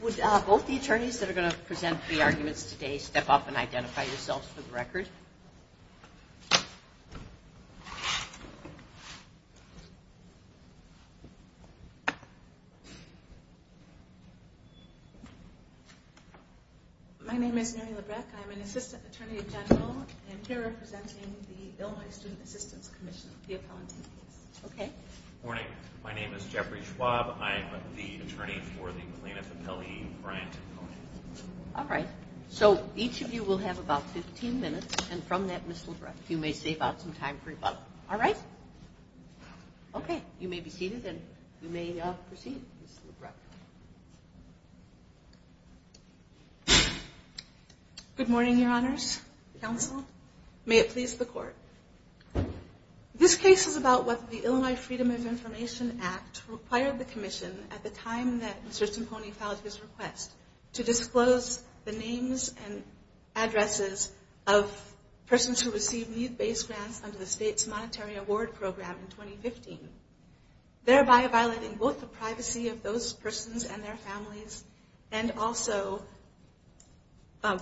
Would both the attorneys that are going to present the arguments today step up and identify yourselves for the record? My name is Mary Labreck. I'm an assistant attorney general and here representing the Illinois Student Assistance Commission. Good morning. My name is Jeffrey Schwab. I'm the attorney for the McLean F. Appellee grant. All right. So each of you will have about 15 minutes, and from that, Ms. Labreck, you may save out some time for rebuttal. All right? Okay. You may be seated and you may proceed, Ms. Labreck. Good morning, Your Honors. Counsel. May it please the court. This case is about whether the Illinois Freedom of Information Act required the commission, at the time that Mr. Timpone filed his request, to disclose the names and addresses of persons who received need-based grants under the state's monetary award program in 2015, thereby violating both the privacy of those persons and their families and also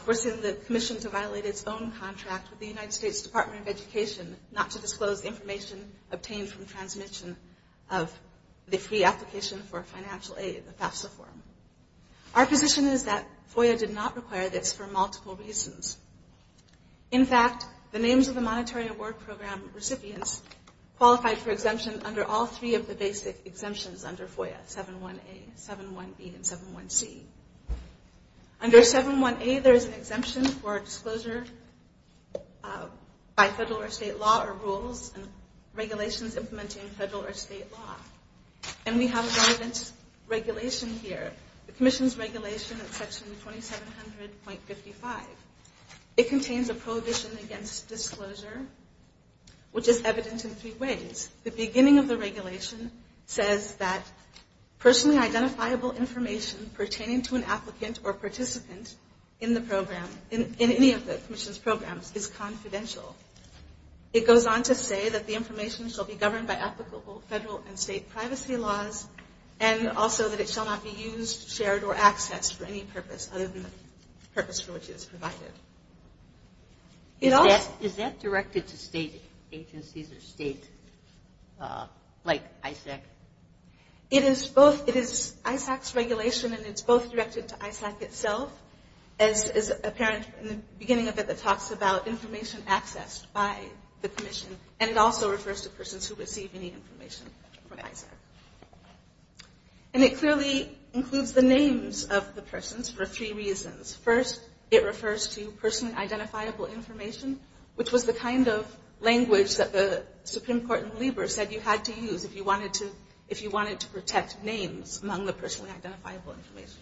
forcing the commission to contact with the United States Department of Education not to disclose information obtained from transmission of the free application for financial aid, the FAFSA form. Our position is that FOIA did not require this for multiple reasons. In fact, the names of the monetary award program recipients qualified for exemption under all three of the basic exemptions under FOIA, 7.1a, 7.1b, and 7.1c. Under 7.1a, there is an exemption for disclosure by federal or state law or rules and regulations implementing federal or state law. And we have a relevant regulation here, the commission's regulation at Section 2700.55. It contains a prohibition against disclosure, which is evident in three ways. The beginning of the regulation says that personally identifiable information pertaining to an applicant or participant in the program, in any of the commission's programs, is confidential. It goes on to say that the information shall be governed by applicable federal and state privacy laws and also that it shall not be used, shared, or accessed for any purpose other than the purpose for which it is provided. Is that directed to state agencies or state, like ISAC? It is both. It is ISAC's regulation, and it's both directed to ISAC itself, as apparent in the beginning of it that talks about information accessed by the commission. And it also refers to persons who receive any information from ISAC. And it clearly includes the names of the persons for three reasons. First, it refers to personally identifiable information, which was the kind of language that the Supreme Court in Lieber said you had to use if you wanted to protect names among the personally identifiable information.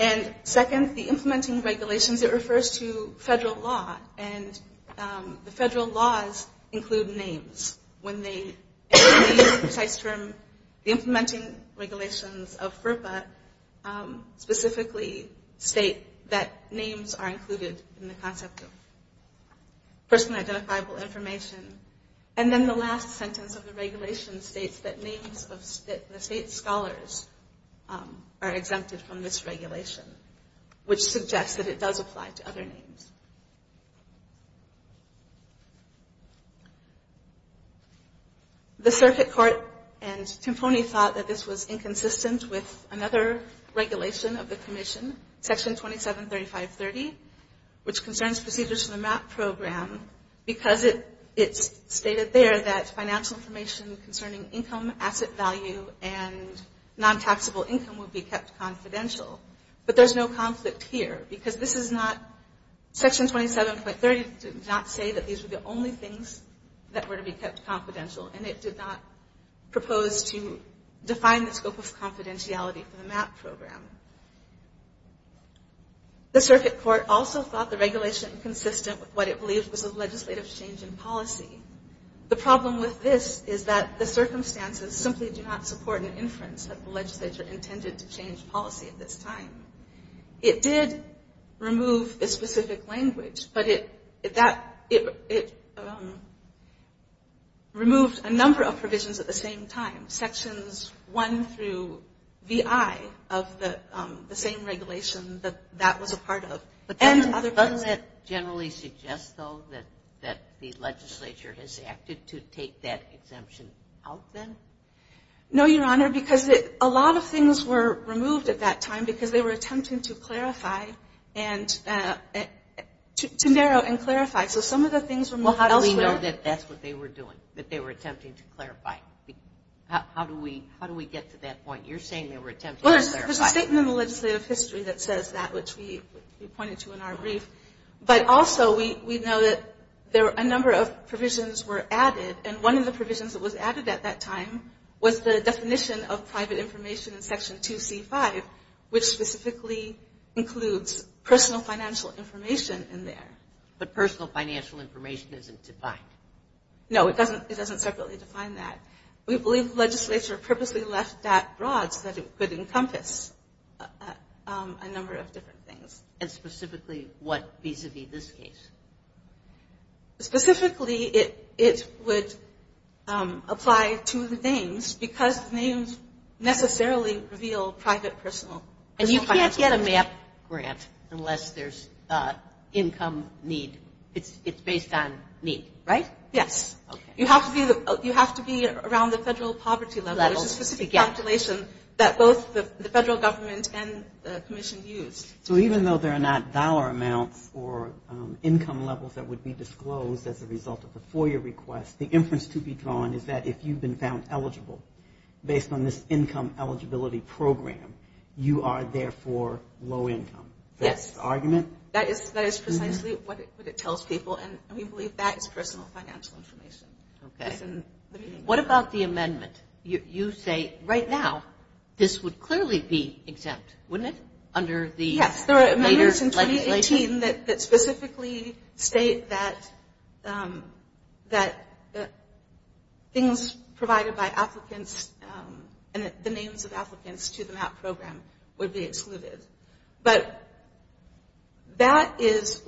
And second, the implementing regulations, it refers to federal law, and the federal laws include names. When they use the precise term, the implementing regulations of FERPA specifically state that names are included in the concept of personally identifiable information. And then the last sentence of the regulation states that names of the state scholars are exempted from this regulation, which suggests that it does apply to other names. The circuit court and Timponi thought that this was inconsistent with another regulation of the commission, Section 273530, which concerns procedures from the MAP program, because it's stated there that financial information concerning income, asset value, and non-taxable income would be kept confidential. But there's no conflict here, because this is not, Section 27.30 did not say that these were the only things that were to be kept confidential, and it did not propose to define the scope of confidentiality for the MAP program. The circuit court also thought the regulation inconsistent with what it believed was a legislative change in policy. The problem with this is that the circumstances simply do not support an inference that the legislature intended to change policy at this time. It did remove a specific language, but it removed a number of provisions at the same time. Sections 1 through VI of the same regulation that that was a part of. And other things. But doesn't that generally suggest, though, that the legislature has acted to take that exemption out then? No, Your Honor, because a lot of things were removed at that time, because they were attempting to clarify, to narrow and clarify. So some of the things were moved elsewhere. Well, how do we know that that's what they were doing, that they were attempting to clarify? How do we get to that point? You're saying they were attempting to clarify. Well, there's a statement in the legislative history that says that, which we pointed to in our brief. But also, we know that a number of provisions were added, and one of the provisions that was added at that time was the definition of private information in Section 2C-5, which specifically includes personal financial information in there. But personal financial information isn't defined. No, it doesn't separately define that. We believe the legislature purposely left that broad so that it could encompass a number of different things. And specifically what vis-a-vis this case? Specifically, it would apply to the names, because names necessarily reveal private personal financial information. And you can't get a MAP grant unless there's income need. It's based on need, right? Yes. Okay. You have to be around the federal poverty level. There's a specific calculation that both the federal government and the Commission used. So even though there are not dollar amounts or income levels that would be disclosed as a result of the FOIA request, the inference to be drawn is that if you've been found eligible based on this income eligibility program, you are therefore low income. Yes. That's the argument? That is precisely what it tells people, and we believe that is personal financial information. Okay. What about the amendment? You say right now this would clearly be exempt, wouldn't it, under the later legislation? Yes, there are amendments in 2018 that specifically state that things provided by applicants and the names of applicants to the MAP program would be excluded. But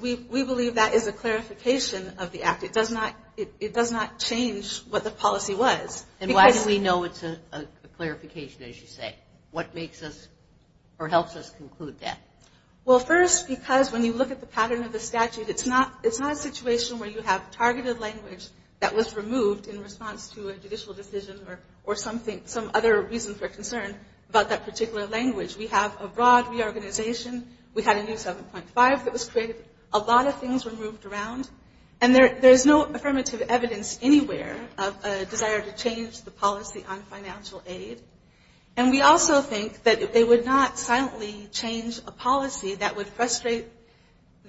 we believe that is a clarification of the act. It does not change what the policy was. And why do we know it's a clarification, as you say? What makes us or helps us conclude that? Well, first, because when you look at the pattern of the statute, it's not a situation where you have targeted language that was removed in response to a judicial decision or some other reason for concern about that particular language. We have a broad reorganization. We had a new 7.5 that was created. A lot of things were moved around. And there is no affirmative evidence anywhere of a desire to change the policy on financial aid. And we also think that it would not silently change a policy that would frustrate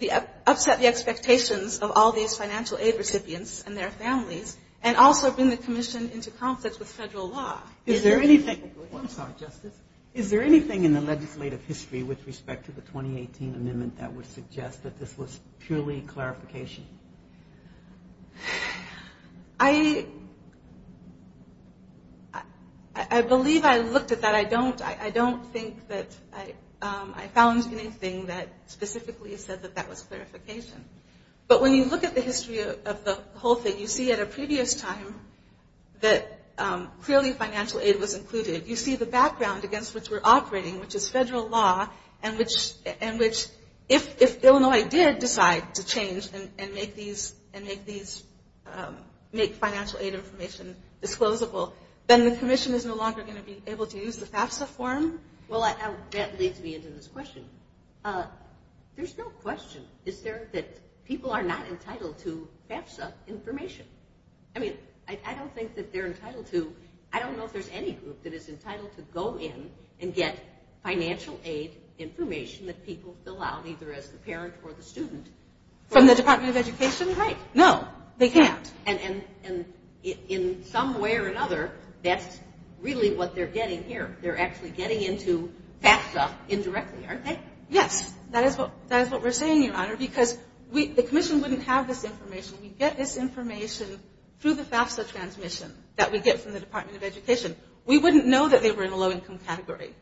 or upset the expectations of all these financial aid recipients and their families and also bring the commission into conflict with federal law. Is there anything in the legislative history with respect to the 2018 amendment that would suggest that this was purely clarification? I believe I looked at that. I don't think that I found anything that specifically said that that was clarification. But when you look at the history of the whole thing, you see at a previous time that clearly financial aid was included. You see the background against which we're operating, which is federal law, and which if Illinois did decide to change and make financial aid information disclosable, then the commission is no longer going to be able to use the FAFSA form. Well, that leads me into this question. There's no question, is there, that people are not entitled to FAFSA information. I mean, I don't think that they're entitled to. I don't know if there's any group that is entitled to go in and get financial aid information that people fill out either as the parent or the student. From the Department of Education? Right. No, they can't. And in some way or another, that's really what they're getting here. They're actually getting into FAFSA indirectly, aren't they? Yes, that is what we're saying, Your Honor, because the commission wouldn't have this information. We get this information through the FAFSA transmission that we get from the Department of Education. We wouldn't know that they were in a low-income category.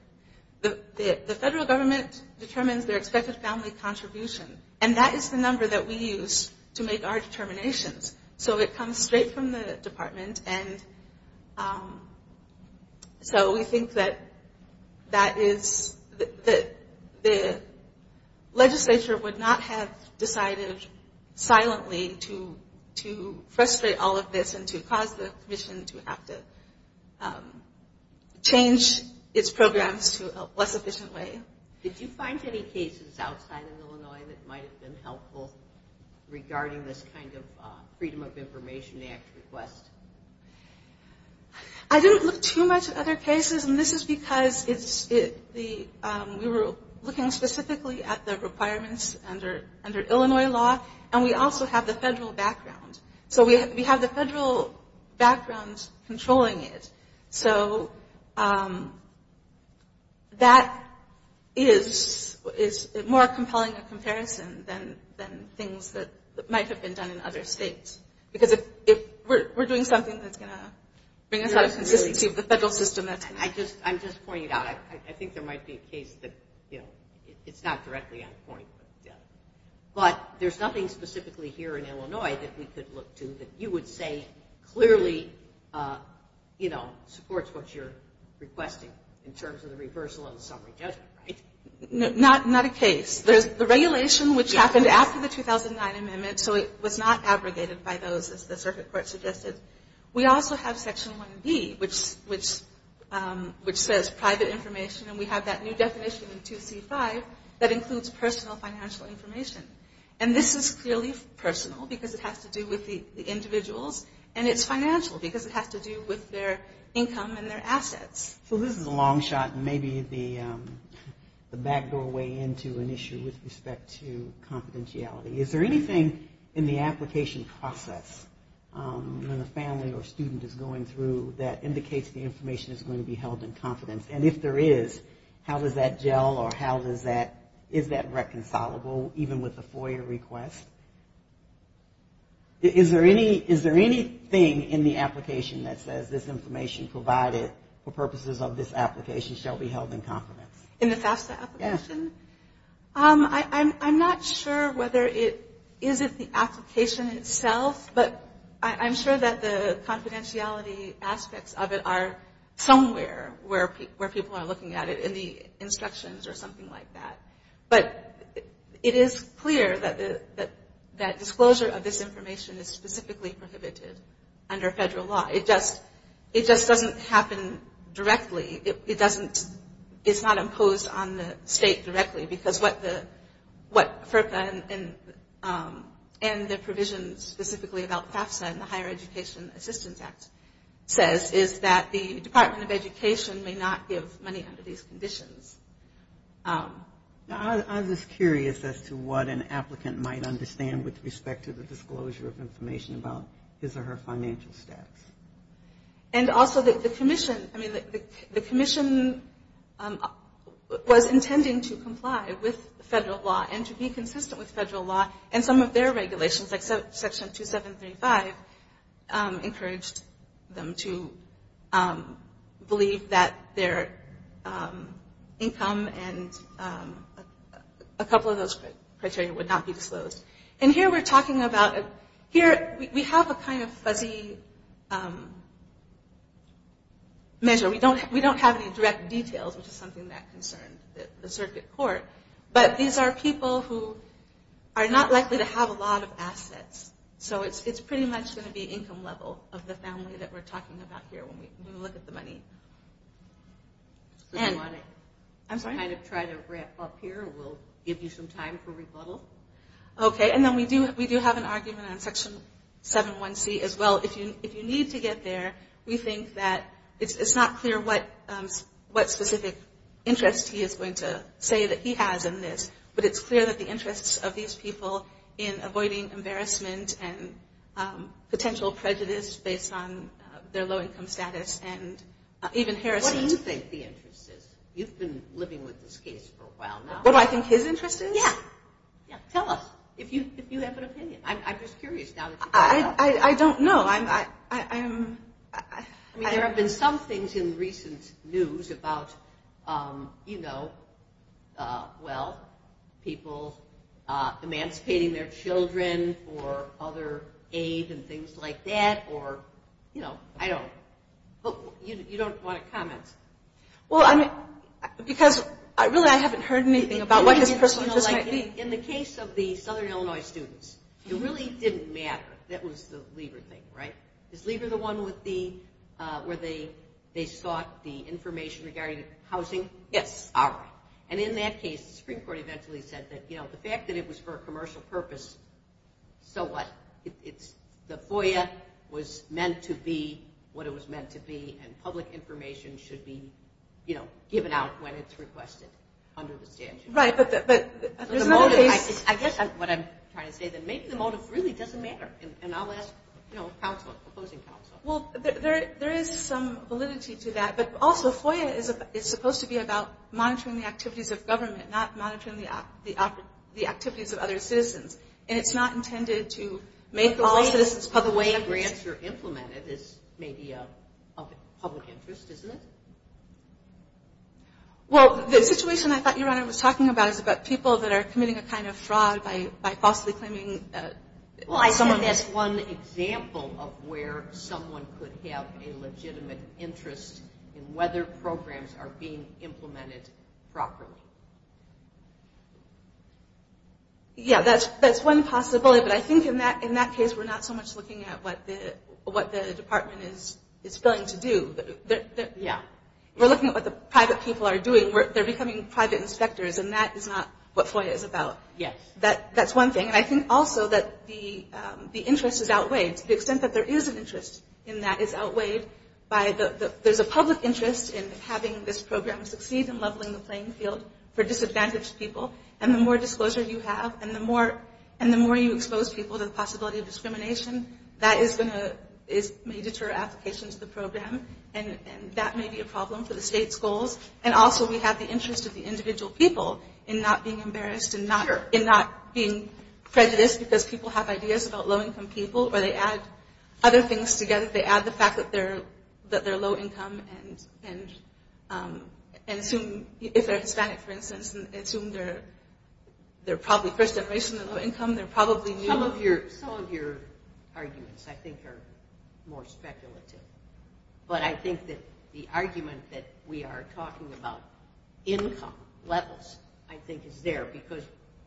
The federal government determines their expected family contribution, and that is the number that we use to make our determinations. So it comes straight from the department, and so we think that the legislature would not have decided silently to frustrate all of this and to cause the commission to have to change its programs to a less efficient way. Did you find any cases outside of Illinois that might have been helpful regarding this kind of Freedom of Information Act request? I didn't look too much at other cases, and this is because we were looking specifically at the requirements under Illinois law, and we also have the federal background. So we have the federal background controlling it. So that is more compelling a comparison than things that might have been done in other states, because if we're doing something that's going to bring us out of consistency with the federal system, that's going to be helpful. I'm just pointing it out. I think there might be a case that, you know, it's not directly on point, but there's nothing specifically here in Illinois that we could look to that you would say clearly, you know, supports what you're requesting in terms of the reversal of the summary judgment, right? Not a case. The regulation, which happened after the 2009 amendment, so it was not abrogated by those, as the circuit court suggested. We also have Section 1B, which says private information, and we have that new definition in 2C-5 that includes personal financial information. And this is clearly personal because it has to do with the individuals, and it's financial because it has to do with their income and their assets. So this is a long shot and maybe the back doorway into an issue with respect to confidentiality. Is there anything in the application process when a family or student is going through that indicates the information is going to be held in confidence? And if there is, how does that gel or is that reconcilable even with the FOIA request? Is there anything in the application that says this information provided for purposes of this application shall be held in confidence? In the FAFSA application? Yes. I'm not sure whether it is in the application itself, but I'm sure that the confidentiality aspects of it are somewhere where people are looking at it, in the instructions or something like that. But it is clear that disclosure of this information is specifically prohibited under federal law. It just doesn't happen directly. It's not imposed on the state directly because what FERPA and the provisions specifically about FAFSA and the Higher Education Assistance Act says is that the Department of Education may not give money under these conditions. I'm just curious as to what an applicant might understand with respect to the disclosure of information about his or her financial status. And also the commission was intending to comply with federal law and to be consistent with federal law, and some of their regulations, like Section 2735, encouraged them to believe that their income and a couple of those criteria would not be disclosed. And here we're talking about, here we have a kind of fuzzy measure. We don't have any direct details, which is something that concerns the circuit court, but these are people who are not likely to have a lot of assets. So it's pretty much going to be income level of the family that we're talking about here when we look at the money. So do you want to kind of try to wrap up here? We'll give you some time for rebuttal. Okay. And then we do have an argument on Section 71C as well. If you need to get there, we think that it's not clear what specific interest he is going to say that he has in this, but it's clear that the interests of these people in avoiding embarrassment and potential prejudice based on their low income status and even harassment. What do you think the interest is? You've been living with this case for a while now. What do I think his interest is? Yeah. Yeah. Tell us if you have an opinion. I'm just curious now that you brought it up. I don't know. I mean, there have been some things in recent news about, you know, well, people emancipating their children for other aid and things like that, or, you know, I don't. But you don't want to comment. Well, I mean, because really I haven't heard anything about what his personal life is. In the case of the Southern Illinois students, it really didn't matter. That was the Lieber thing, right? Is Lieber the one where they sought the information regarding housing? Yes. All right. And in that case, the Supreme Court eventually said that, you know, the fact that it was for a commercial purpose, so what? The FOIA was meant to be what it was meant to be, and public information should be, you know, given out when it's requested under the statute. Right. But there's another case. I guess what I'm trying to say is that maybe the motive really doesn't matter, and I'll ask, you know, counsel, opposing counsel. Well, there is some validity to that. But also, FOIA is supposed to be about monitoring the activities of government, not monitoring the activities of other citizens, and it's not intended to make all citizens public. But the way grants are implemented is maybe of public interest, isn't it? Well, the situation I thought you, Your Honor, was talking about is about people that are committing a kind of fraud by falsely claiming that someone is. Is that one example of where someone could have a legitimate interest in whether programs are being implemented properly? Yeah, that's one possibility. But I think in that case, we're not so much looking at what the department is going to do. Yeah. We're looking at what the private people are doing. They're becoming private inspectors, and that is not what FOIA is about. Yes. That's one thing. And I think also that the interest is outweighed, to the extent that there is an interest in that is outweighed by the – there's a public interest in having this program succeed in leveling the playing field for disadvantaged people. And the more disclosure you have and the more you expose people to the possibility of discrimination, that is going to – may deter applications to the program, and that may be a problem for the state's goals. And also, we have the interest of the individual people in not being embarrassed and not being prejudiced because people have ideas about low-income people or they add other things together. If they add the fact that they're low-income and assume – if they're Hispanic, for instance, and assume they're probably first generation and low-income, they're probably new. Some of your arguments, I think, are more speculative. But I think that the argument that we are talking about income levels, I think, is there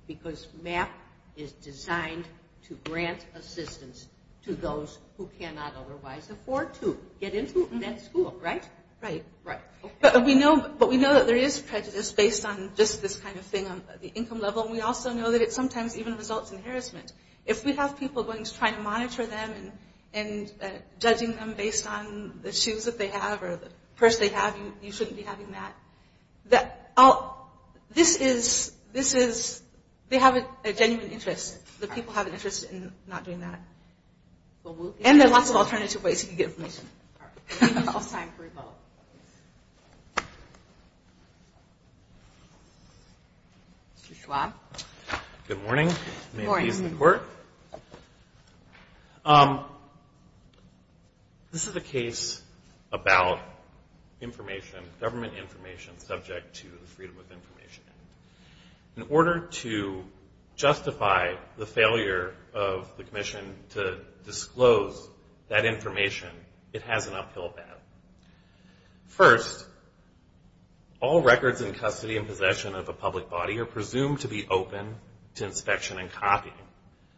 because MAP is designed to grant assistance to those who cannot otherwise afford to get into that school, right? Right. But we know that there is prejudice based on just this kind of thing on the income level, and we also know that it sometimes even results in harassment. If we have people going to try to monitor them and judging them based on the shoes that they have or the purse they have, you shouldn't be having that. This is – they have a genuine interest. The people have an interest in not doing that. And there are lots of alternative ways you can get information. Mr. Schwab. Good morning. May it please the Court. This is a case about information, government information, subject to the Freedom of Information Act. In order to justify the failure of the commission to disclose that information, it has an uphill battle. First, all records in custody and possession of a public body are presumed to be open to inspection and copying.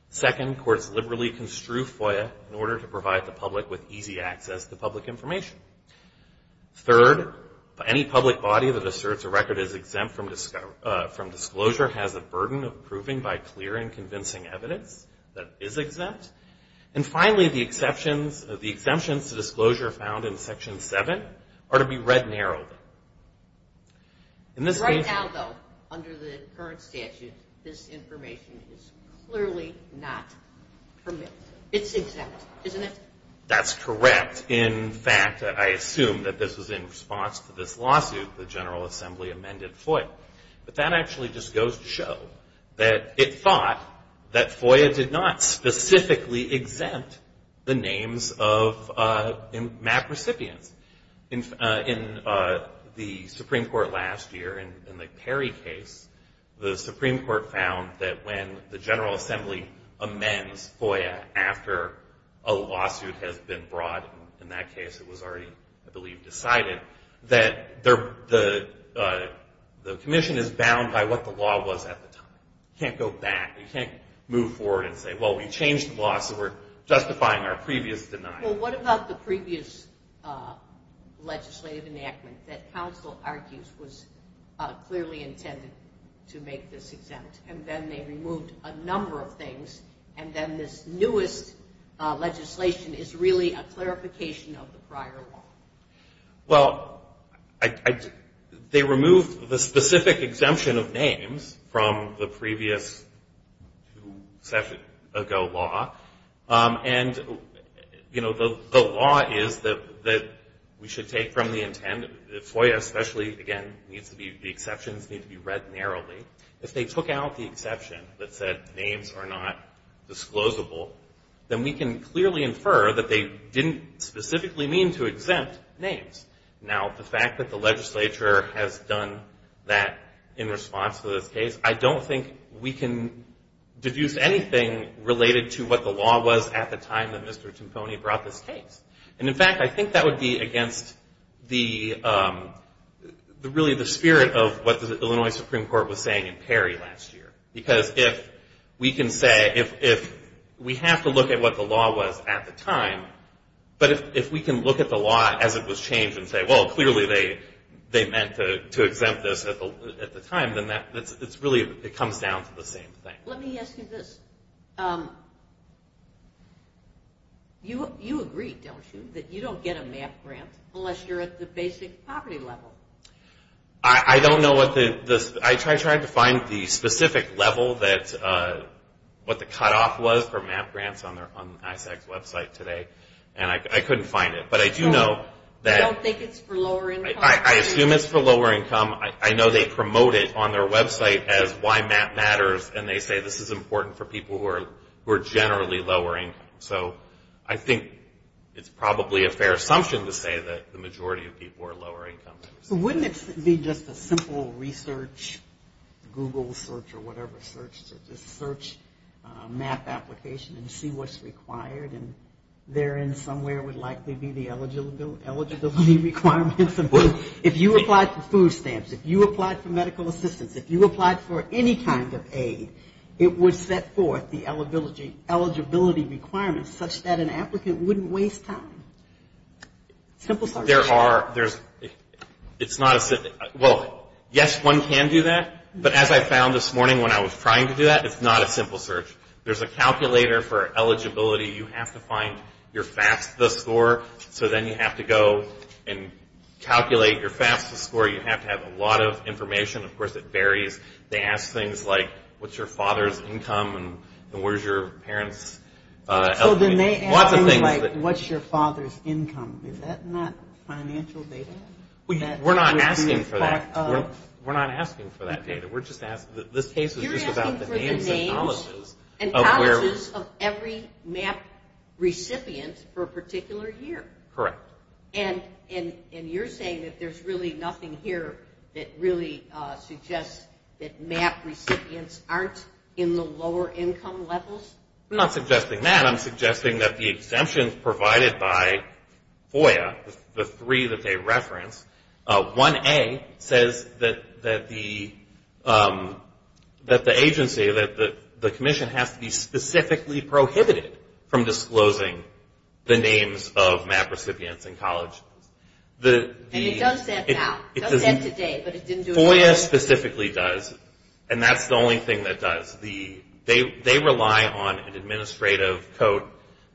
Second, courts liberally construe FOIA in order to provide the public with easy access to public information. Third, any public body that asserts a record is exempt from disclosure has a burden of proving by clear and convincing evidence that it is exempt. And finally, the exemptions to disclosure found in Section 7 are to be read narrowly. Right now, though, under the current statute, this information is clearly not permitted. It's exempt, isn't it? That's correct. In fact, I assume that this was in response to this lawsuit, the General Assembly amended FOIA. But that actually just goes to show that it thought that FOIA did not specifically exempt the names of MAP recipients. In the Supreme Court last year, in the Perry case, the Supreme Court found that when the General Assembly amends FOIA after a lawsuit has been brought, in that case it was already, I believe, decided, that the commission is bound by what the law was at the time. You can't go back. You can't move forward and say, well, we changed the law, so we're justifying our previous denial. Well, what about the previous legislative enactment that counsel argues was clearly intended to make this exempt? And then they removed a number of things, and then this newest legislation is really a clarification of the prior law. Well, they removed the specific exemption of names from the previous, two sessions ago, law. And, you know, the law is that we should take from the intent, FOIA especially, again, needs to be, the exceptions need to be read narrowly. If they took out the exception that said names are not disclosable, then we can clearly infer that they didn't specifically mean to exempt names. Now, the fact that the legislature has done that in response to this case, I don't think we can deduce anything related to what the law was at the time that Mr. Timpone brought this case. And, in fact, I think that would be against the, really, the spirit of what the Illinois Supreme Court was saying in Perry last year. Because if we can say, if we have to look at what the law was at the time, but if we can look at the law as it was changed and say, well, clearly they meant to exempt this at the time, then that's really, it comes down to the same thing. Let me ask you this. You agree, don't you, that you don't get a MAP grant unless you're at the basic poverty level? I don't know what the, I tried to find the specific level that, what the cutoff was for MAP grants on ISAC's website today, and I couldn't find it. But I do know that. I don't think it's for lower income. I assume it's for lower income. I know they promote it on their website as why MAP matters, and they say this is important for people who are generally lower income. So I think it's probably a fair assumption to say that the majority of people are lower income. So wouldn't it be just a simple research, Google search or whatever search, to just search MAP application and see what's required, and therein somewhere would likely be the eligibility requirements. If you applied for food stamps, if you applied for medical assistance, if you applied for any kind of aid, it would set forth the eligibility requirements such that an applicant wouldn't waste time. Simple search. There are, there's, it's not a, well, yes, one can do that. But as I found this morning when I was trying to do that, it's not a simple search. There's a calculator for eligibility. You have to find your fastest score. So then you have to go and calculate your fastest score. You have to have a lot of information. Of course, it varies. They ask things like what's your father's income and where's your parents' eligibility. Lots of things. So then they ask things like what's your father's income. Is that not financial data? We're not asking for that. We're not asking for that data. We're just asking that this case is just about the names and colleges. You're asking for the names and colleges of every MAP recipient for a particular year. Correct. And you're saying that there's really nothing here that really suggests that MAP recipients aren't in the lower income levels? I'm not suggesting that. I'm suggesting that the exemptions provided by FOIA, the three that they reference, 1A says that the agency, that the commission has to be specifically prohibited from disclosing the names of MAP recipients in college. And it does that now. It does that today, but it didn't do it before. FOIA specifically does, and that's the only thing that does. They rely on an administrative code.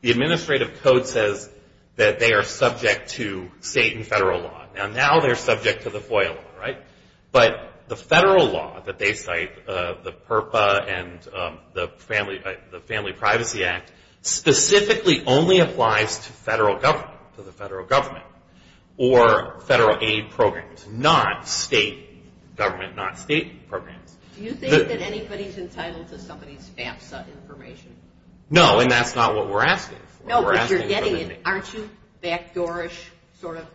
The administrative code says that they are subject to state and federal law. Now they're subject to the FOIA law, right? But the federal law that they cite, the PURPA and the Family Privacy Act, specifically only applies to federal government, to the federal government, or federal aid programs, not state government, not state programs. Do you think that anybody's entitled to somebody's FAFSA information? No, and that's not what we're asking for. No, but you're getting it, aren't you? Backdoorish sort of?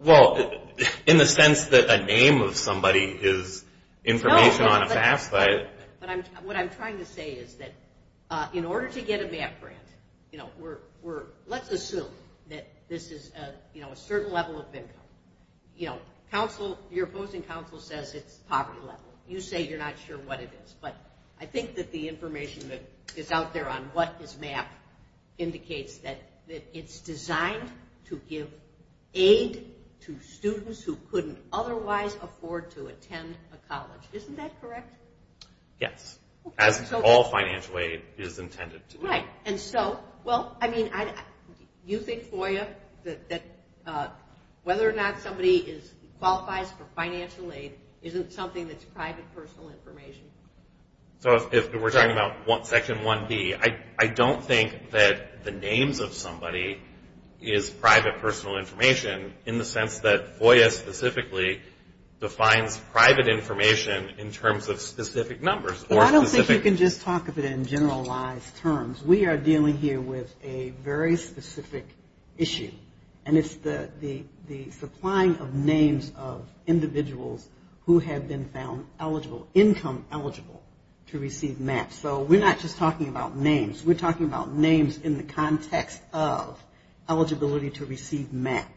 Well, in the sense that a name of somebody is information on a FAFSA. What I'm trying to say is that in order to get a MAP grant, let's assume that this is a certain level of income. Your opposing counsel says it's poverty level. You say you're not sure what it is. But I think that the information that is out there on what is MAP indicates that it's designed to give aid to students who couldn't otherwise afford to attend a college. Isn't that correct? Yes. As all financial aid is intended to be. Right. And so, well, I mean, you think, FOIA, that whether or not somebody qualifies for financial aid isn't something that's private personal information. So if we're talking about Section 1B, I don't think that the names of somebody is private personal information in the sense that FOIA specifically defines private information in terms of specific numbers. I don't think you can just talk of it in generalized terms. We are dealing here with a very specific issue. And it's the supplying of names of individuals who have been found eligible, income eligible, to receive MAP. So we're not just talking about names. We're talking about names in the context of eligibility to receive MAP.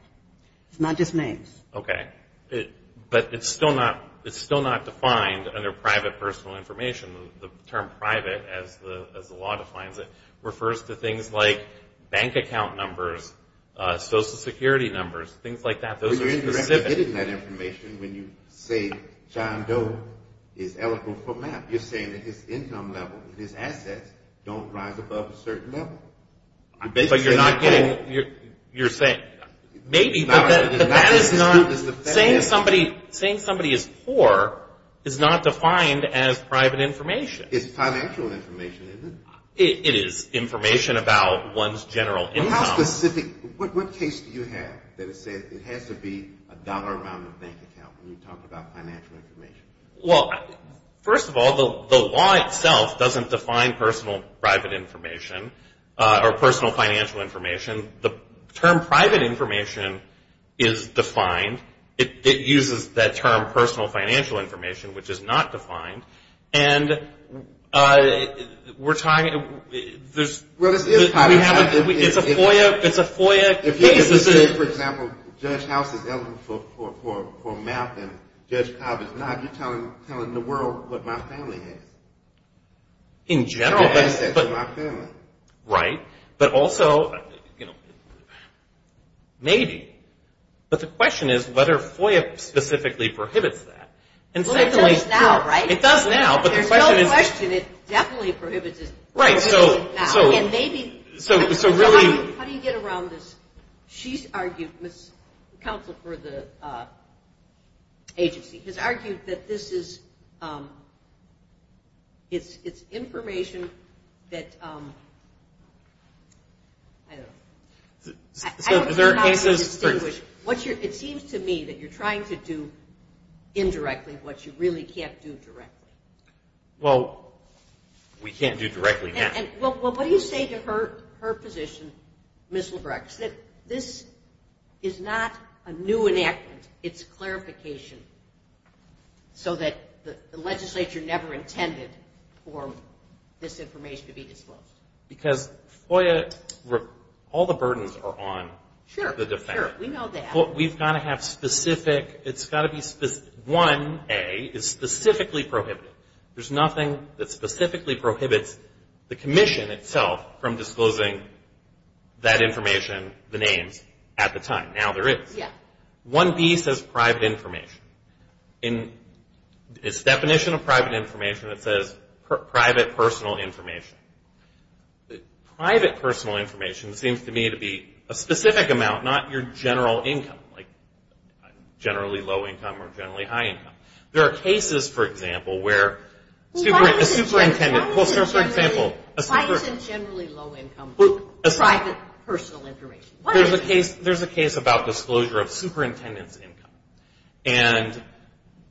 It's not just names. Okay. But it's still not defined under private personal information. The term private, as the law defines it, refers to things like bank account numbers, social security numbers, things like that. Those are specific. But you're not getting that information when you say John Doe is eligible for MAP. You're saying that his income level and his assets don't rise above a certain level. But you're not getting, you're saying, maybe. But that is not, saying somebody is poor is not defined as private information. It's financial information, isn't it? It is information about one's general income. But how specific, what case do you have that has said it has to be a dollar amount in a bank account when you talk about financial information? Well, first of all, the law itself doesn't define personal private information or personal financial information. The term private information is defined. It uses that term personal financial information, which is not defined. And we're talking, there's, we have, it's a FOIA, it's a FOIA case. For example, Judge House is eligible for MAP and Judge Cobb is not. You're telling the world what my family has. In general. My assets and my family. Right. But also, you know, maybe. But the question is whether FOIA specifically prohibits that. Well, it does now, right? It does now, but the question is. There's no question it definitely prohibits it. Right, so. And maybe. So really. How do you get around this? She's argued, counsel for the agency, has argued that this is, it's information that, I don't know. So is there a case that's. It seems to me that you're trying to do indirectly what you really can't do directly. Well, we can't do directly now. Well, what do you say to her position, Ms. Lebrecht, that this is not a new enactment, it's clarification. So that the legislature never intended for this information to be disclosed. Because FOIA, all the burdens are on the defendant. Sure, sure, we know that. But we've got to have specific, it's got to be specific. 1A is specifically prohibited. There's nothing that specifically prohibits the commission itself from disclosing that information, the names, at the time. Now there is. Yeah. 1B says private information. In its definition of private information, it says private personal information. Private personal information seems to me to be a specific amount, not your general income. Like generally low income or generally high income. There are cases, for example, where a superintendent, for example. Why is it generally low income? Private personal information. There's a case about disclosure of superintendent's income. And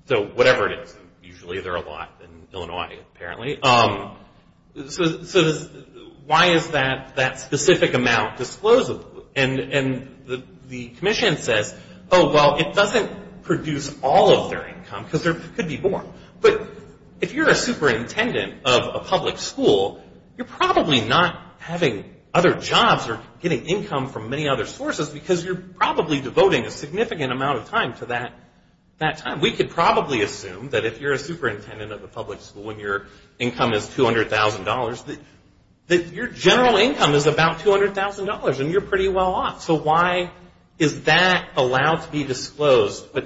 so whatever it is. Usually there are a lot in Illinois, apparently. So why is that specific amount disclosed? And the commission says, oh, well, it doesn't produce all of their income. Because there could be more. But if you're a superintendent of a public school, you're probably not having other jobs or getting income from many other sources. Because you're probably devoting a significant amount of time to that time. We could probably assume that if you're a superintendent of a public school and your income is $200,000, that your general income is about $200,000 and you're pretty well off. So why is that allowed to be disclosed? I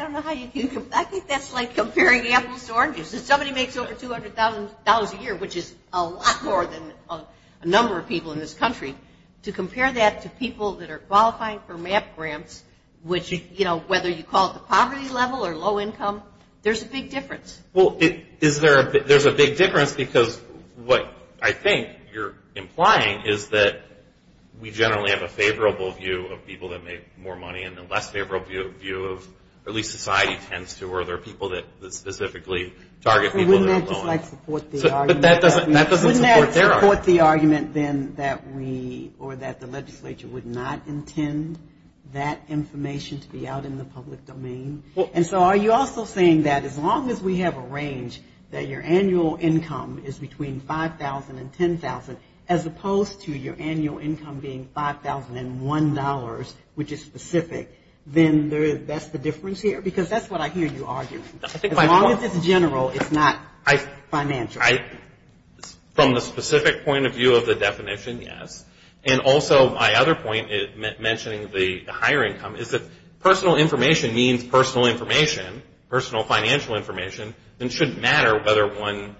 don't know how you can compare. I think that's like comparing apples to oranges. If somebody makes over $200,000 a year, which is a lot more than a number of people in this country, to compare that to people that are qualifying for MAP grants, which, you know, whether you call it the poverty level or low income, there's a big difference. Well, there's a big difference because what I think you're implying is that we generally have a favorable view of people that make more money and a less favorable view of, at least society tends to, where there are people that specifically target people that are low. But wouldn't that just support the argument that we or that the legislature would not intend that information to be out in the public domain? And so are you also saying that as long as we have a range that your annual income is between $5,000 and $10,000, as opposed to your annual income being $5,001, which is specific, then that's the difference here? Because that's what I hear you arguing. As long as it's general, it's not financial. From the specific point of view of the definition, yes. And also my other point, mentioning the higher income, is that personal information means personal information, personal financial information, and it shouldn't matter whether one's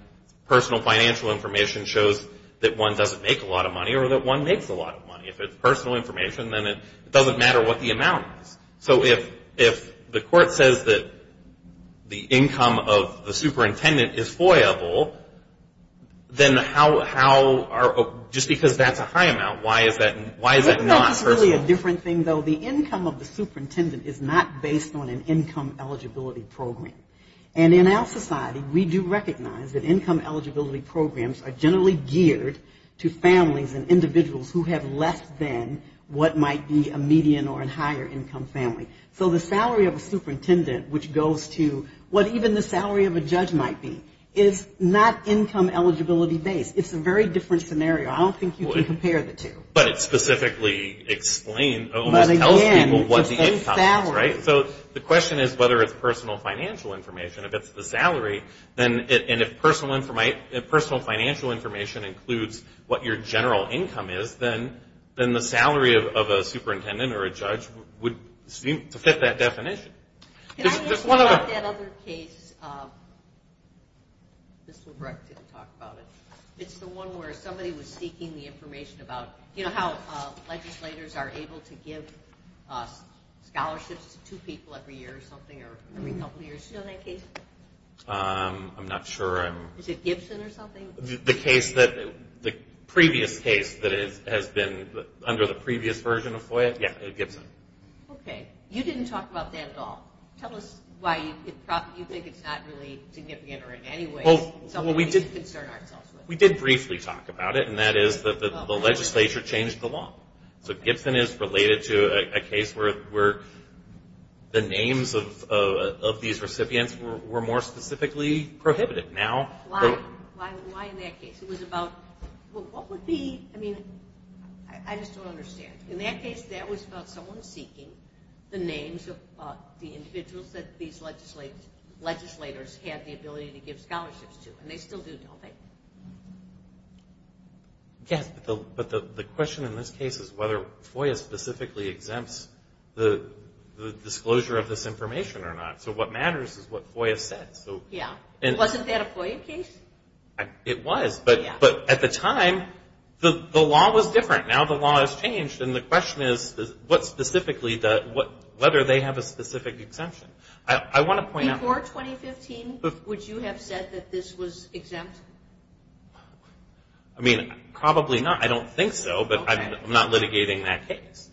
personal financial information shows that one doesn't make a lot of money or that one makes a lot of money. If it's personal information, then it doesn't matter what the amount is. So if the court says that the income of the superintendent is FOIA-able, then how are, just because that's a high amount, why is that not personal? That's really a different thing, though. The income of the superintendent is not based on an income eligibility program. And in our society, we do recognize that income eligibility programs are generally geared to families and individuals who have less than what might be a median or a higher income family. So the salary of a superintendent, which goes to what even the salary of a judge might be, is not income eligibility-based. It's a very different scenario. I don't think you can compare the two. But it specifically explains, almost tells people what the income is, right? So the question is whether it's personal financial information. If it's the salary, and if personal financial information includes what your general income is, then the salary of a superintendent or a judge would seem to fit that definition. Can I ask you about that other case? This one where I didn't talk about it. It's the one where somebody was seeking the information about how legislators are able to give scholarships to two people every year or something or every couple of years. Do you know that case? I'm not sure. Is it Gibson or something? The previous case that has been under the previous version of FOIA? Yeah, it was Gibson. Okay. You didn't talk about that at all. Tell us why you think it's not really significant or in any way something we should concern ourselves with. We did briefly talk about it, and that is that the legislature changed the law. So Gibson is related to a case where the names of these recipients were more specifically prohibited. Why in that case? It was about what would be, I mean, I just don't understand. In that case, that was about someone seeking the names of the individuals that these legislators had the ability to give scholarships to, and they still do, don't they? Yes, but the question in this case is whether FOIA specifically exempts the disclosure of this information or not. So what matters is what FOIA says. Yeah. Wasn't that a FOIA case? It was, but at the time, the law was different. Now the law has changed, and the question is whether they have a specific exemption. Before 2015, would you have said that this was exempt? I mean, probably not. I don't think so, but I'm not litigating that case.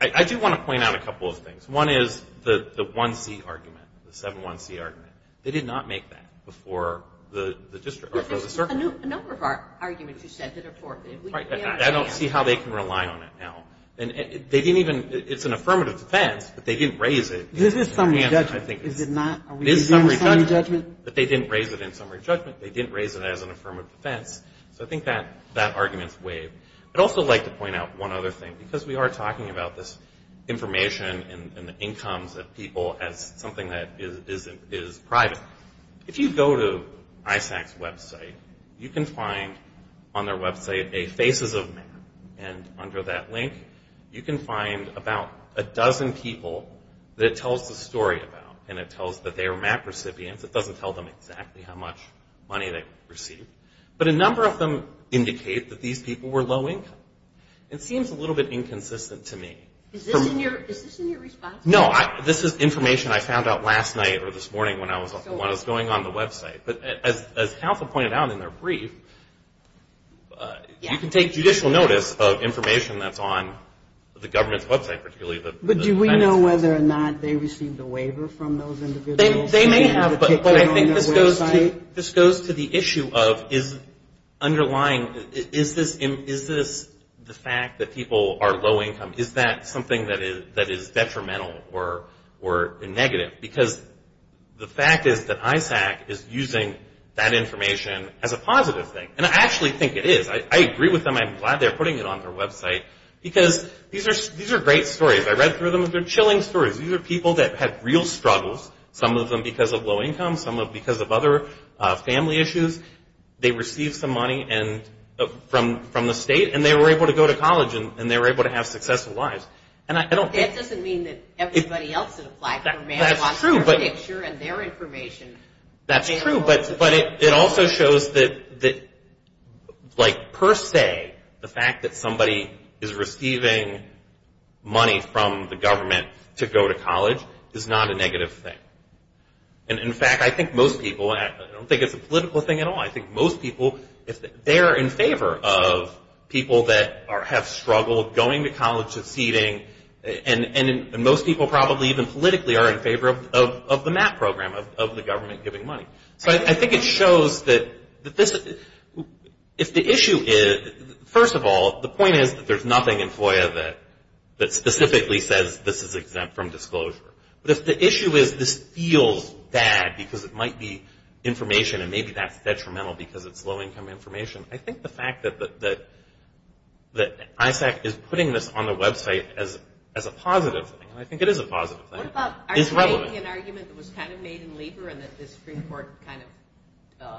I do want to point out a couple of things. One is the 1C argument, the 7-1C argument. They did not make that before the circuit. There's a number of arguments you said that are forthcoming. I don't see how they can rely on it now. It's an affirmative defense, but they didn't raise it. This is summary judgment, is it not? This is summary judgment, but they didn't raise it in summary judgment. They didn't raise it as an affirmative defense. So I think that argument's waived. I'd also like to point out one other thing. Because we are talking about this information and the incomes of people as something that is private, if you go to ISAC's website, you can find on their website a faces of map. And under that link, you can find about a dozen people that it tells the story about. And it tells that they are map recipients. It doesn't tell them exactly how much money they received. But a number of them indicate that these people were low income. It seems a little bit inconsistent to me. Is this in your response? No, this is information I found out last night or this morning when I was going on the website. But as counsel pointed out in their brief, you can take judicial notice of information that's on the government's website, particularly the But do we know whether or not they received a waiver from those individuals? They may have, but I think this goes to the issue of is underlying, is this the fact that people are low income? Is that something that is detrimental or negative? Because the fact is that ISAC is using that information as a positive thing. And I actually think it is. I agree with them. I'm glad they're putting it on their website. Because these are great stories. I read through them. They're chilling stories. These are people that had real struggles, some of them because of low income, some of them because of other family issues. They received some money from the state, and they were able to go to college, and they were able to have successful lives. That doesn't mean that everybody else in the black community wants their picture and their information. That's true, but it also shows that, like, per se, the fact that somebody is receiving money from the government to go to college is not a negative thing. And, in fact, I think most people, and I don't think it's a political thing at all, I think most people, they're in favor of people that have struggled going to college, succeeding, and most people probably even politically are in favor of the MAP program, of the government giving money. So I think it shows that if the issue is, first of all, the point is that there's nothing in FOIA that specifically says this is exempt from disclosure. But if the issue is this feels bad because it might be information and maybe that's detrimental because it's low-income information, I think the fact that ISAC is putting this on the website as a positive thing, and I think it is a positive thing, is relevant. What about arguing an argument that was kind of made in Lieber and that the Supreme Court kind of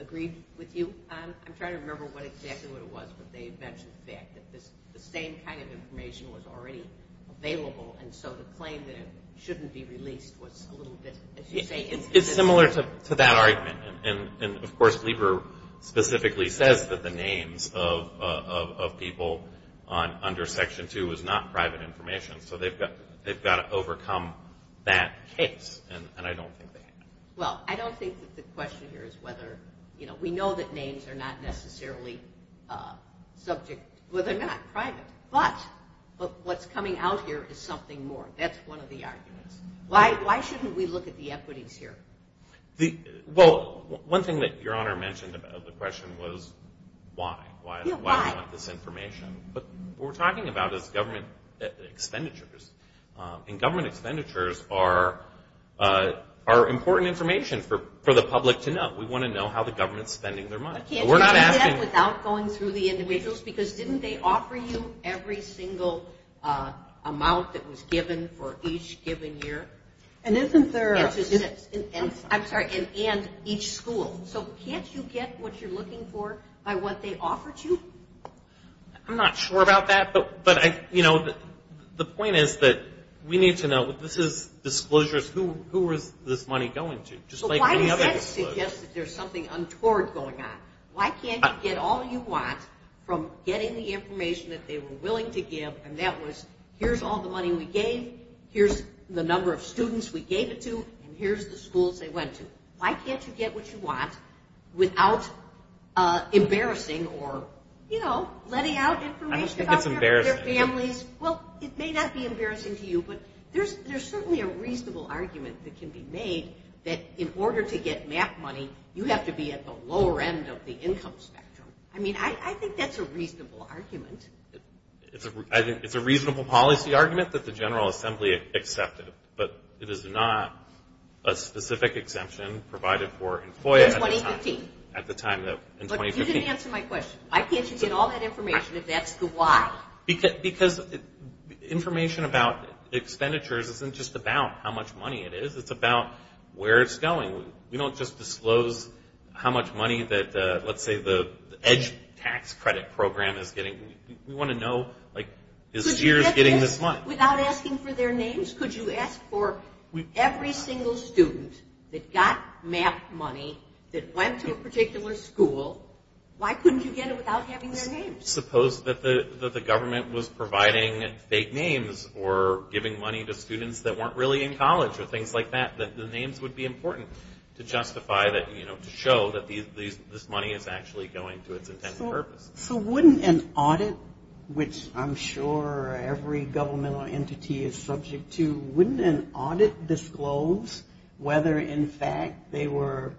agreed with you on? I'm trying to remember exactly what it was, but they had mentioned the fact that the same kind of information was already available, and so the claim that it shouldn't be released was a little bit, as you say, inconsistent. It's similar to that argument. And, of course, Lieber specifically says that the names of people under Section 2 is not private information, so they've got to overcome that case, and I don't think they have. Well, I don't think that the question here is whether, you know, we know that names are not necessarily subject, well, they're not private, but what's coming out here is something more. That's one of the arguments. Why shouldn't we look at the equities here? Well, one thing that Your Honor mentioned about the question was why. Why do we want this information? What we're talking about is government expenditures, and government expenditures are important information for the public to know. We want to know how the government's spending their money. Can't you do that without going through the individuals? Because didn't they offer you every single amount that was given for each given year? And isn't there a... I'm sorry, and each school. So can't you get what you're looking for by what they offered you? I'm not sure about that, but, you know, the point is that we need to know, this is disclosures, who is this money going to? So why does that suggest that there's something untoward going on? Why can't you get all you want from getting the information that they were willing to give, and that was here's all the money we gave, here's the number of students we gave it to, and here's the schools they went to. Why can't you get what you want without embarrassing or, you know, letting out information about their families? Well, it may not be embarrassing to you, but there's certainly a reasonable argument that can be made that in order to get MAP money, you have to be at the lower end of the income spectrum. I mean, I think that's a reasonable argument. It's a reasonable policy argument that the General Assembly accepted, but it is not a specific exemption provided for in FOIA at the time. In 2015. At the time in 2015. Look, you didn't answer my question. Why can't you get all that information if that's the why? Because information about expenditures isn't just about how much money it is, it's about where it's going. You know, we don't just disclose how much money that, let's say, the EDGE tax credit program is getting. We want to know, like, is STEERS getting this money? Without asking for their names, could you ask for every single student that got MAP money, that went to a particular school, why couldn't you get it without having their names? Suppose that the government was providing fake names or giving money to students that weren't really in college or things like that, that the names would be important to justify that, you know, to show that this money is actually going to its intended purpose. So wouldn't an audit, which I'm sure every governmental entity is subject to, wouldn't an audit disclose whether, in fact, they were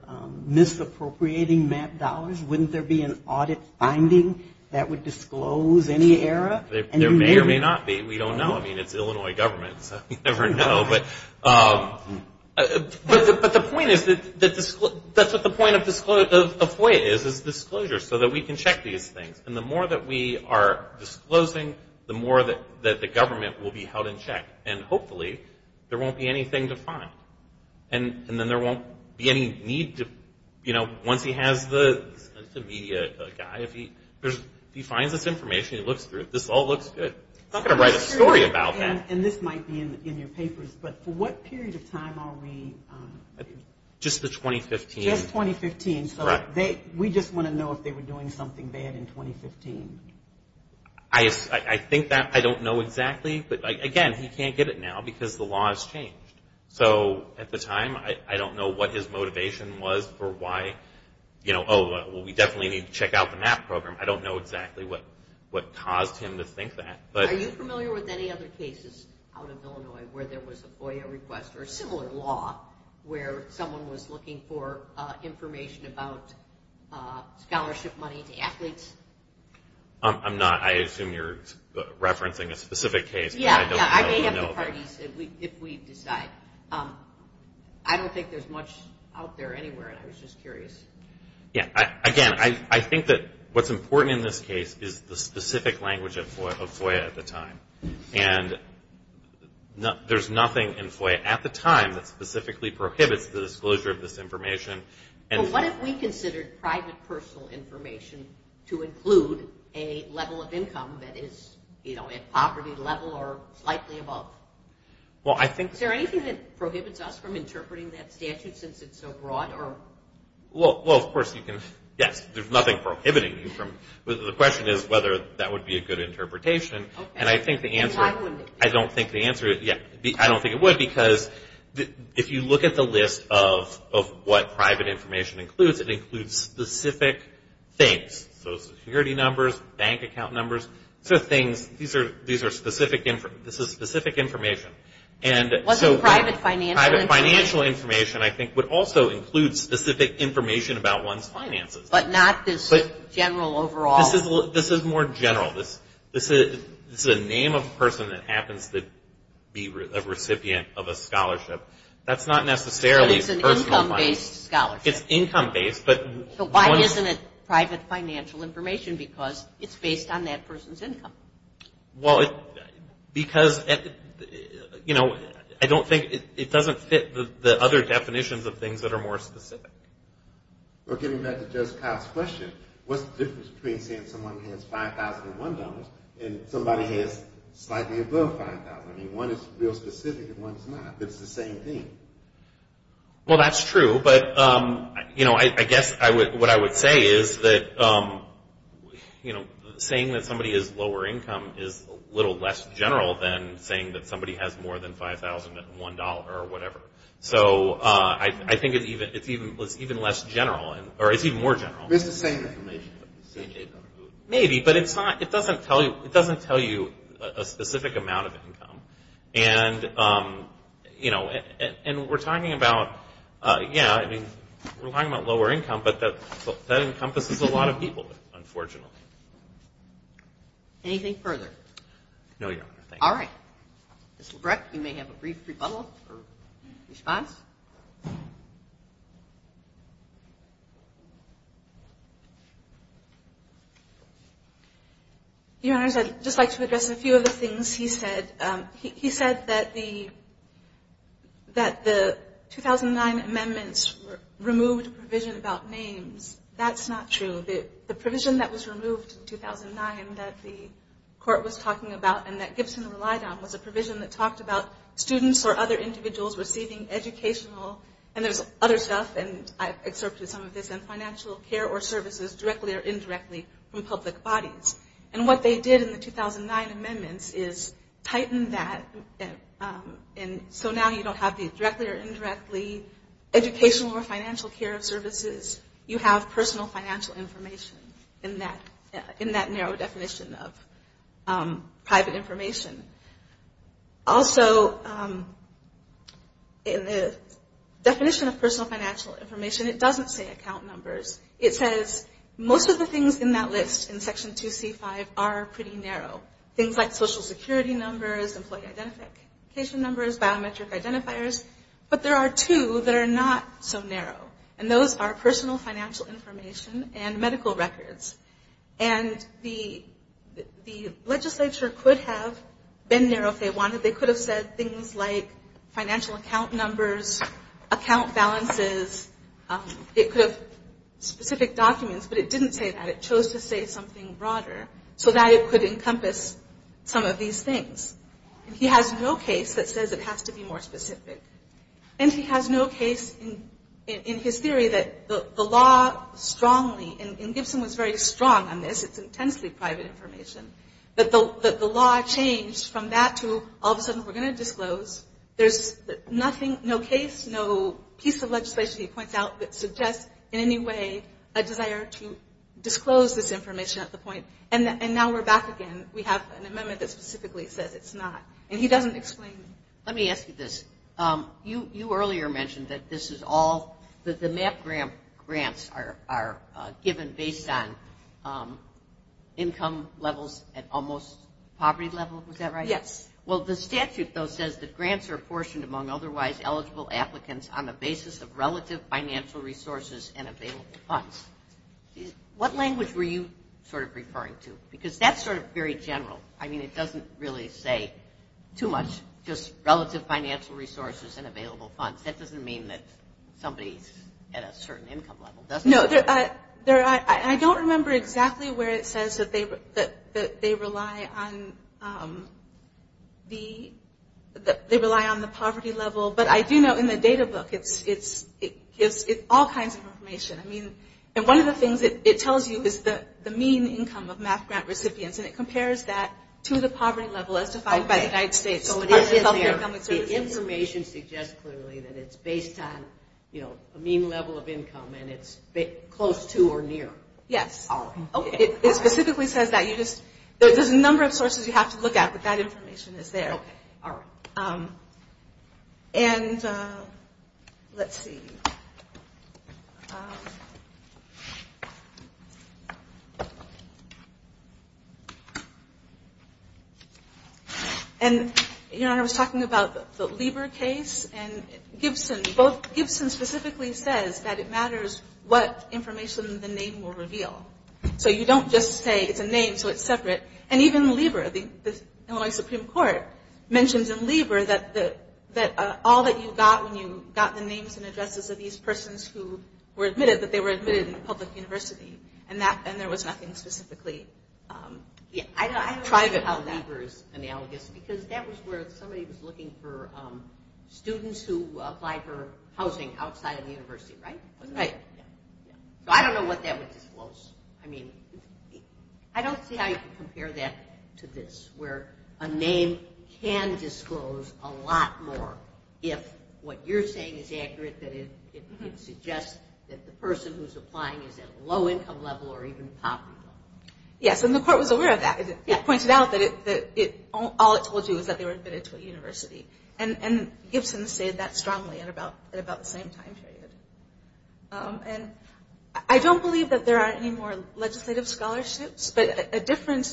misappropriating MAP dollars? Wouldn't there be an audit finding that would disclose any error? There may or may not be. We don't know. I mean, it's Illinois government, so we never know. But the point is that that's what the point of FOIA is, is disclosure, so that we can check these things. And the more that we are disclosing, the more that the government will be held in check. And hopefully there won't be anything to find. And then there won't be any need to, you know, once he has the media guy, if he finds this information, he looks through it, this all looks good. He's not going to write a story about that. And this might be in your papers, but for what period of time are we? Just the 2015. Just 2015. So we just want to know if they were doing something bad in 2015. I think that I don't know exactly. But, again, he can't get it now because the law has changed. So at the time, I don't know what his motivation was for why, you know, oh, well, we definitely need to check out the MAP program. I don't know exactly what caused him to think that. Are you familiar with any other cases out of Illinois where there was a FOIA request or a similar law where someone was looking for information about scholarship money to athletes? I'm not. I assume you're referencing a specific case. Yeah, yeah. I may have the parties if we decide. I don't think there's much out there anywhere, and I was just curious. Yeah. Again, I think that what's important in this case is the specific language of FOIA at the time. And there's nothing in FOIA at the time that specifically prohibits the disclosure of this information. Well, what if we considered private personal information to include a level of income that is, you know, at poverty level or slightly above? Is there anything that prohibits us from interpreting that statute since it's so broad? Well, of course you can. Yes, there's nothing prohibiting you from. The question is whether that would be a good interpretation. Okay. And why wouldn't it be? I don't think the answer is, yeah, I don't think it would because if you look at the list of what private information includes, it includes specific things, so security numbers, bank account numbers. These are specific information. What's private financial information? I think would also include specific information about one's finances. But not this general overall. This is more general. This is a name of a person that happens to be a recipient of a scholarship. That's not necessarily personal finance. So it's an income-based scholarship. It's income-based. So why isn't it private financial information? Because it's based on that person's income. Well, because, you know, I don't think it doesn't fit the other definitions of things that are more specific. Well, getting back to Judge Kyle's question, what's the difference between saying someone has $5,001 and somebody has slightly above $5,000? I mean, one is real specific and one's not. It's the same thing. Well, that's true. But, you know, I guess what I would say is that, you know, saying that somebody has lower income is a little less general than saying that somebody has more than $5,001 or whatever. So I think it's even less general, or it's even more general. It's the same information. Maybe, but it doesn't tell you a specific amount of income. And, you know, and we're talking about, yeah, I mean, we're talking about lower income, but that encompasses a lot of people, unfortunately. Anything further? No, Your Honor, thank you. All right. Mr. Breck, you may have a brief rebuttal or response. Your Honors, I'd just like to address a few of the things he said. He said that the 2009 amendments removed provision about names. That's not true. The provision that was removed in 2009 that the court was talking about and that Gibson relied on was a provision that talked about students or other individuals receiving educational, and there's other stuff, and I've excerpted some of this, and financial care or services directly or indirectly from public bodies. And what they did in the 2009 amendments is tighten that, and so now you don't have the directly or indirectly educational or financial care or services. You have personal financial information in that narrow definition of private information. Also, in the definition of personal financial information, it doesn't say account numbers. It says most of the things in that list in Section 2C-5 are pretty narrow, things like Social Security numbers, employee identification numbers, biometric identifiers, but there are two that are not so narrow, and those are personal financial information and medical records. And the legislature could have been narrow if they wanted. They could have said things like financial account numbers, account balances. It could have specific documents, but it didn't say that. It chose to say something broader so that it could encompass some of these things. And he has no case that says it has to be more specific. And he has no case in his theory that the law strongly, and Gibson was very strong on this, it's intensely private information, that the law changed from that to all of a sudden we're going to disclose. There's nothing, no case, no piece of legislation he points out that suggests in any way a desire to disclose this information at the point, and now we're back again. We have an amendment that specifically says it's not, and he doesn't explain it. Let me ask you this. You earlier mentioned that this is all the MAP grants are given based on income levels at almost poverty level. Was that right? Yes. Well, the statute, though, says that grants are apportioned among otherwise eligible applicants on the basis of relative financial resources and available funds. What language were you sort of referring to? Because that's sort of very general. I mean, it doesn't really say too much, just relative financial resources and available funds. That doesn't mean that somebody's at a certain income level, does it? I don't remember exactly where it says that they rely on the poverty level, but I do know in the data book it gives all kinds of information. And one of the things it tells you is the mean income of MAP grant recipients, and it compares that to the poverty level as defined by the United States. So it is there. The information suggests clearly that it's based on a mean level of income and it's close to or near. Yes. Okay. It specifically says that. There's a number of sources you have to look at, but that information is there. Okay. All right. And let's see. And, Your Honor, I was talking about the Lieber case and Gibson. Both Gibson specifically says that it matters what information the name will reveal. So you don't just say it's a name so it's separate. And even Lieber, the Illinois Supreme Court, mentions in Lieber that all that you got when you got the names and addresses of these persons who were admitted, that they were admitted in a public university, and there was nothing specifically private about that. I don't know how Lieber is analogous, because that was where somebody was looking for students who applied for housing outside of the university, right? Right. So I don't know what that would disclose. I mean, I don't see how you can compare that to this, where a name can disclose a lot more if what you're saying is accurate, that it suggests that the person who's applying is at a low income level or even poverty level. Yes, and the court was aware of that. It pointed out that all it told you was that they were admitted to a university. And Gibson said that strongly at about the same time period. And I don't believe that there are any more legislative scholarships, but an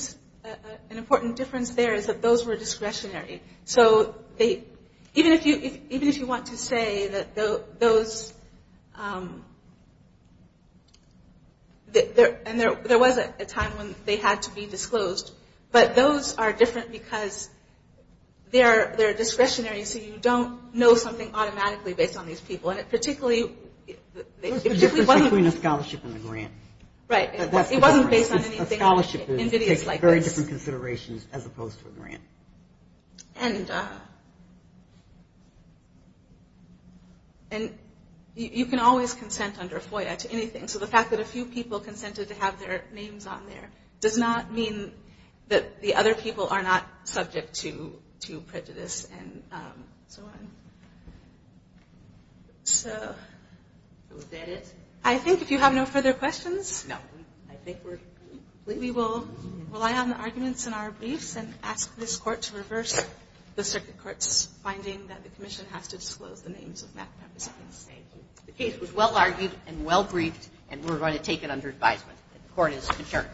important difference there is that those were discretionary. So even if you want to say that those – and there was a time when they had to be disclosed, but those are different because they're discretionary, so you don't know something automatically based on these people. And it particularly – There's a difference between a scholarship and a grant. Right. It wasn't based on anything invidious like this. A scholarship takes very different considerations as opposed to a grant. And you can always consent under FOIA to anything. So the fact that a few people consented to have their names on there does not mean that the other people are not subject to prejudice and so on. So is that it? I think if you have no further questions – No, I think we're completely – We will rely on the arguments in our briefs and ask this court to reverse the circuit court's finding Thank you. The case was well-argued and well-briefed, and we're going to take it under advisement that the court is adjourned.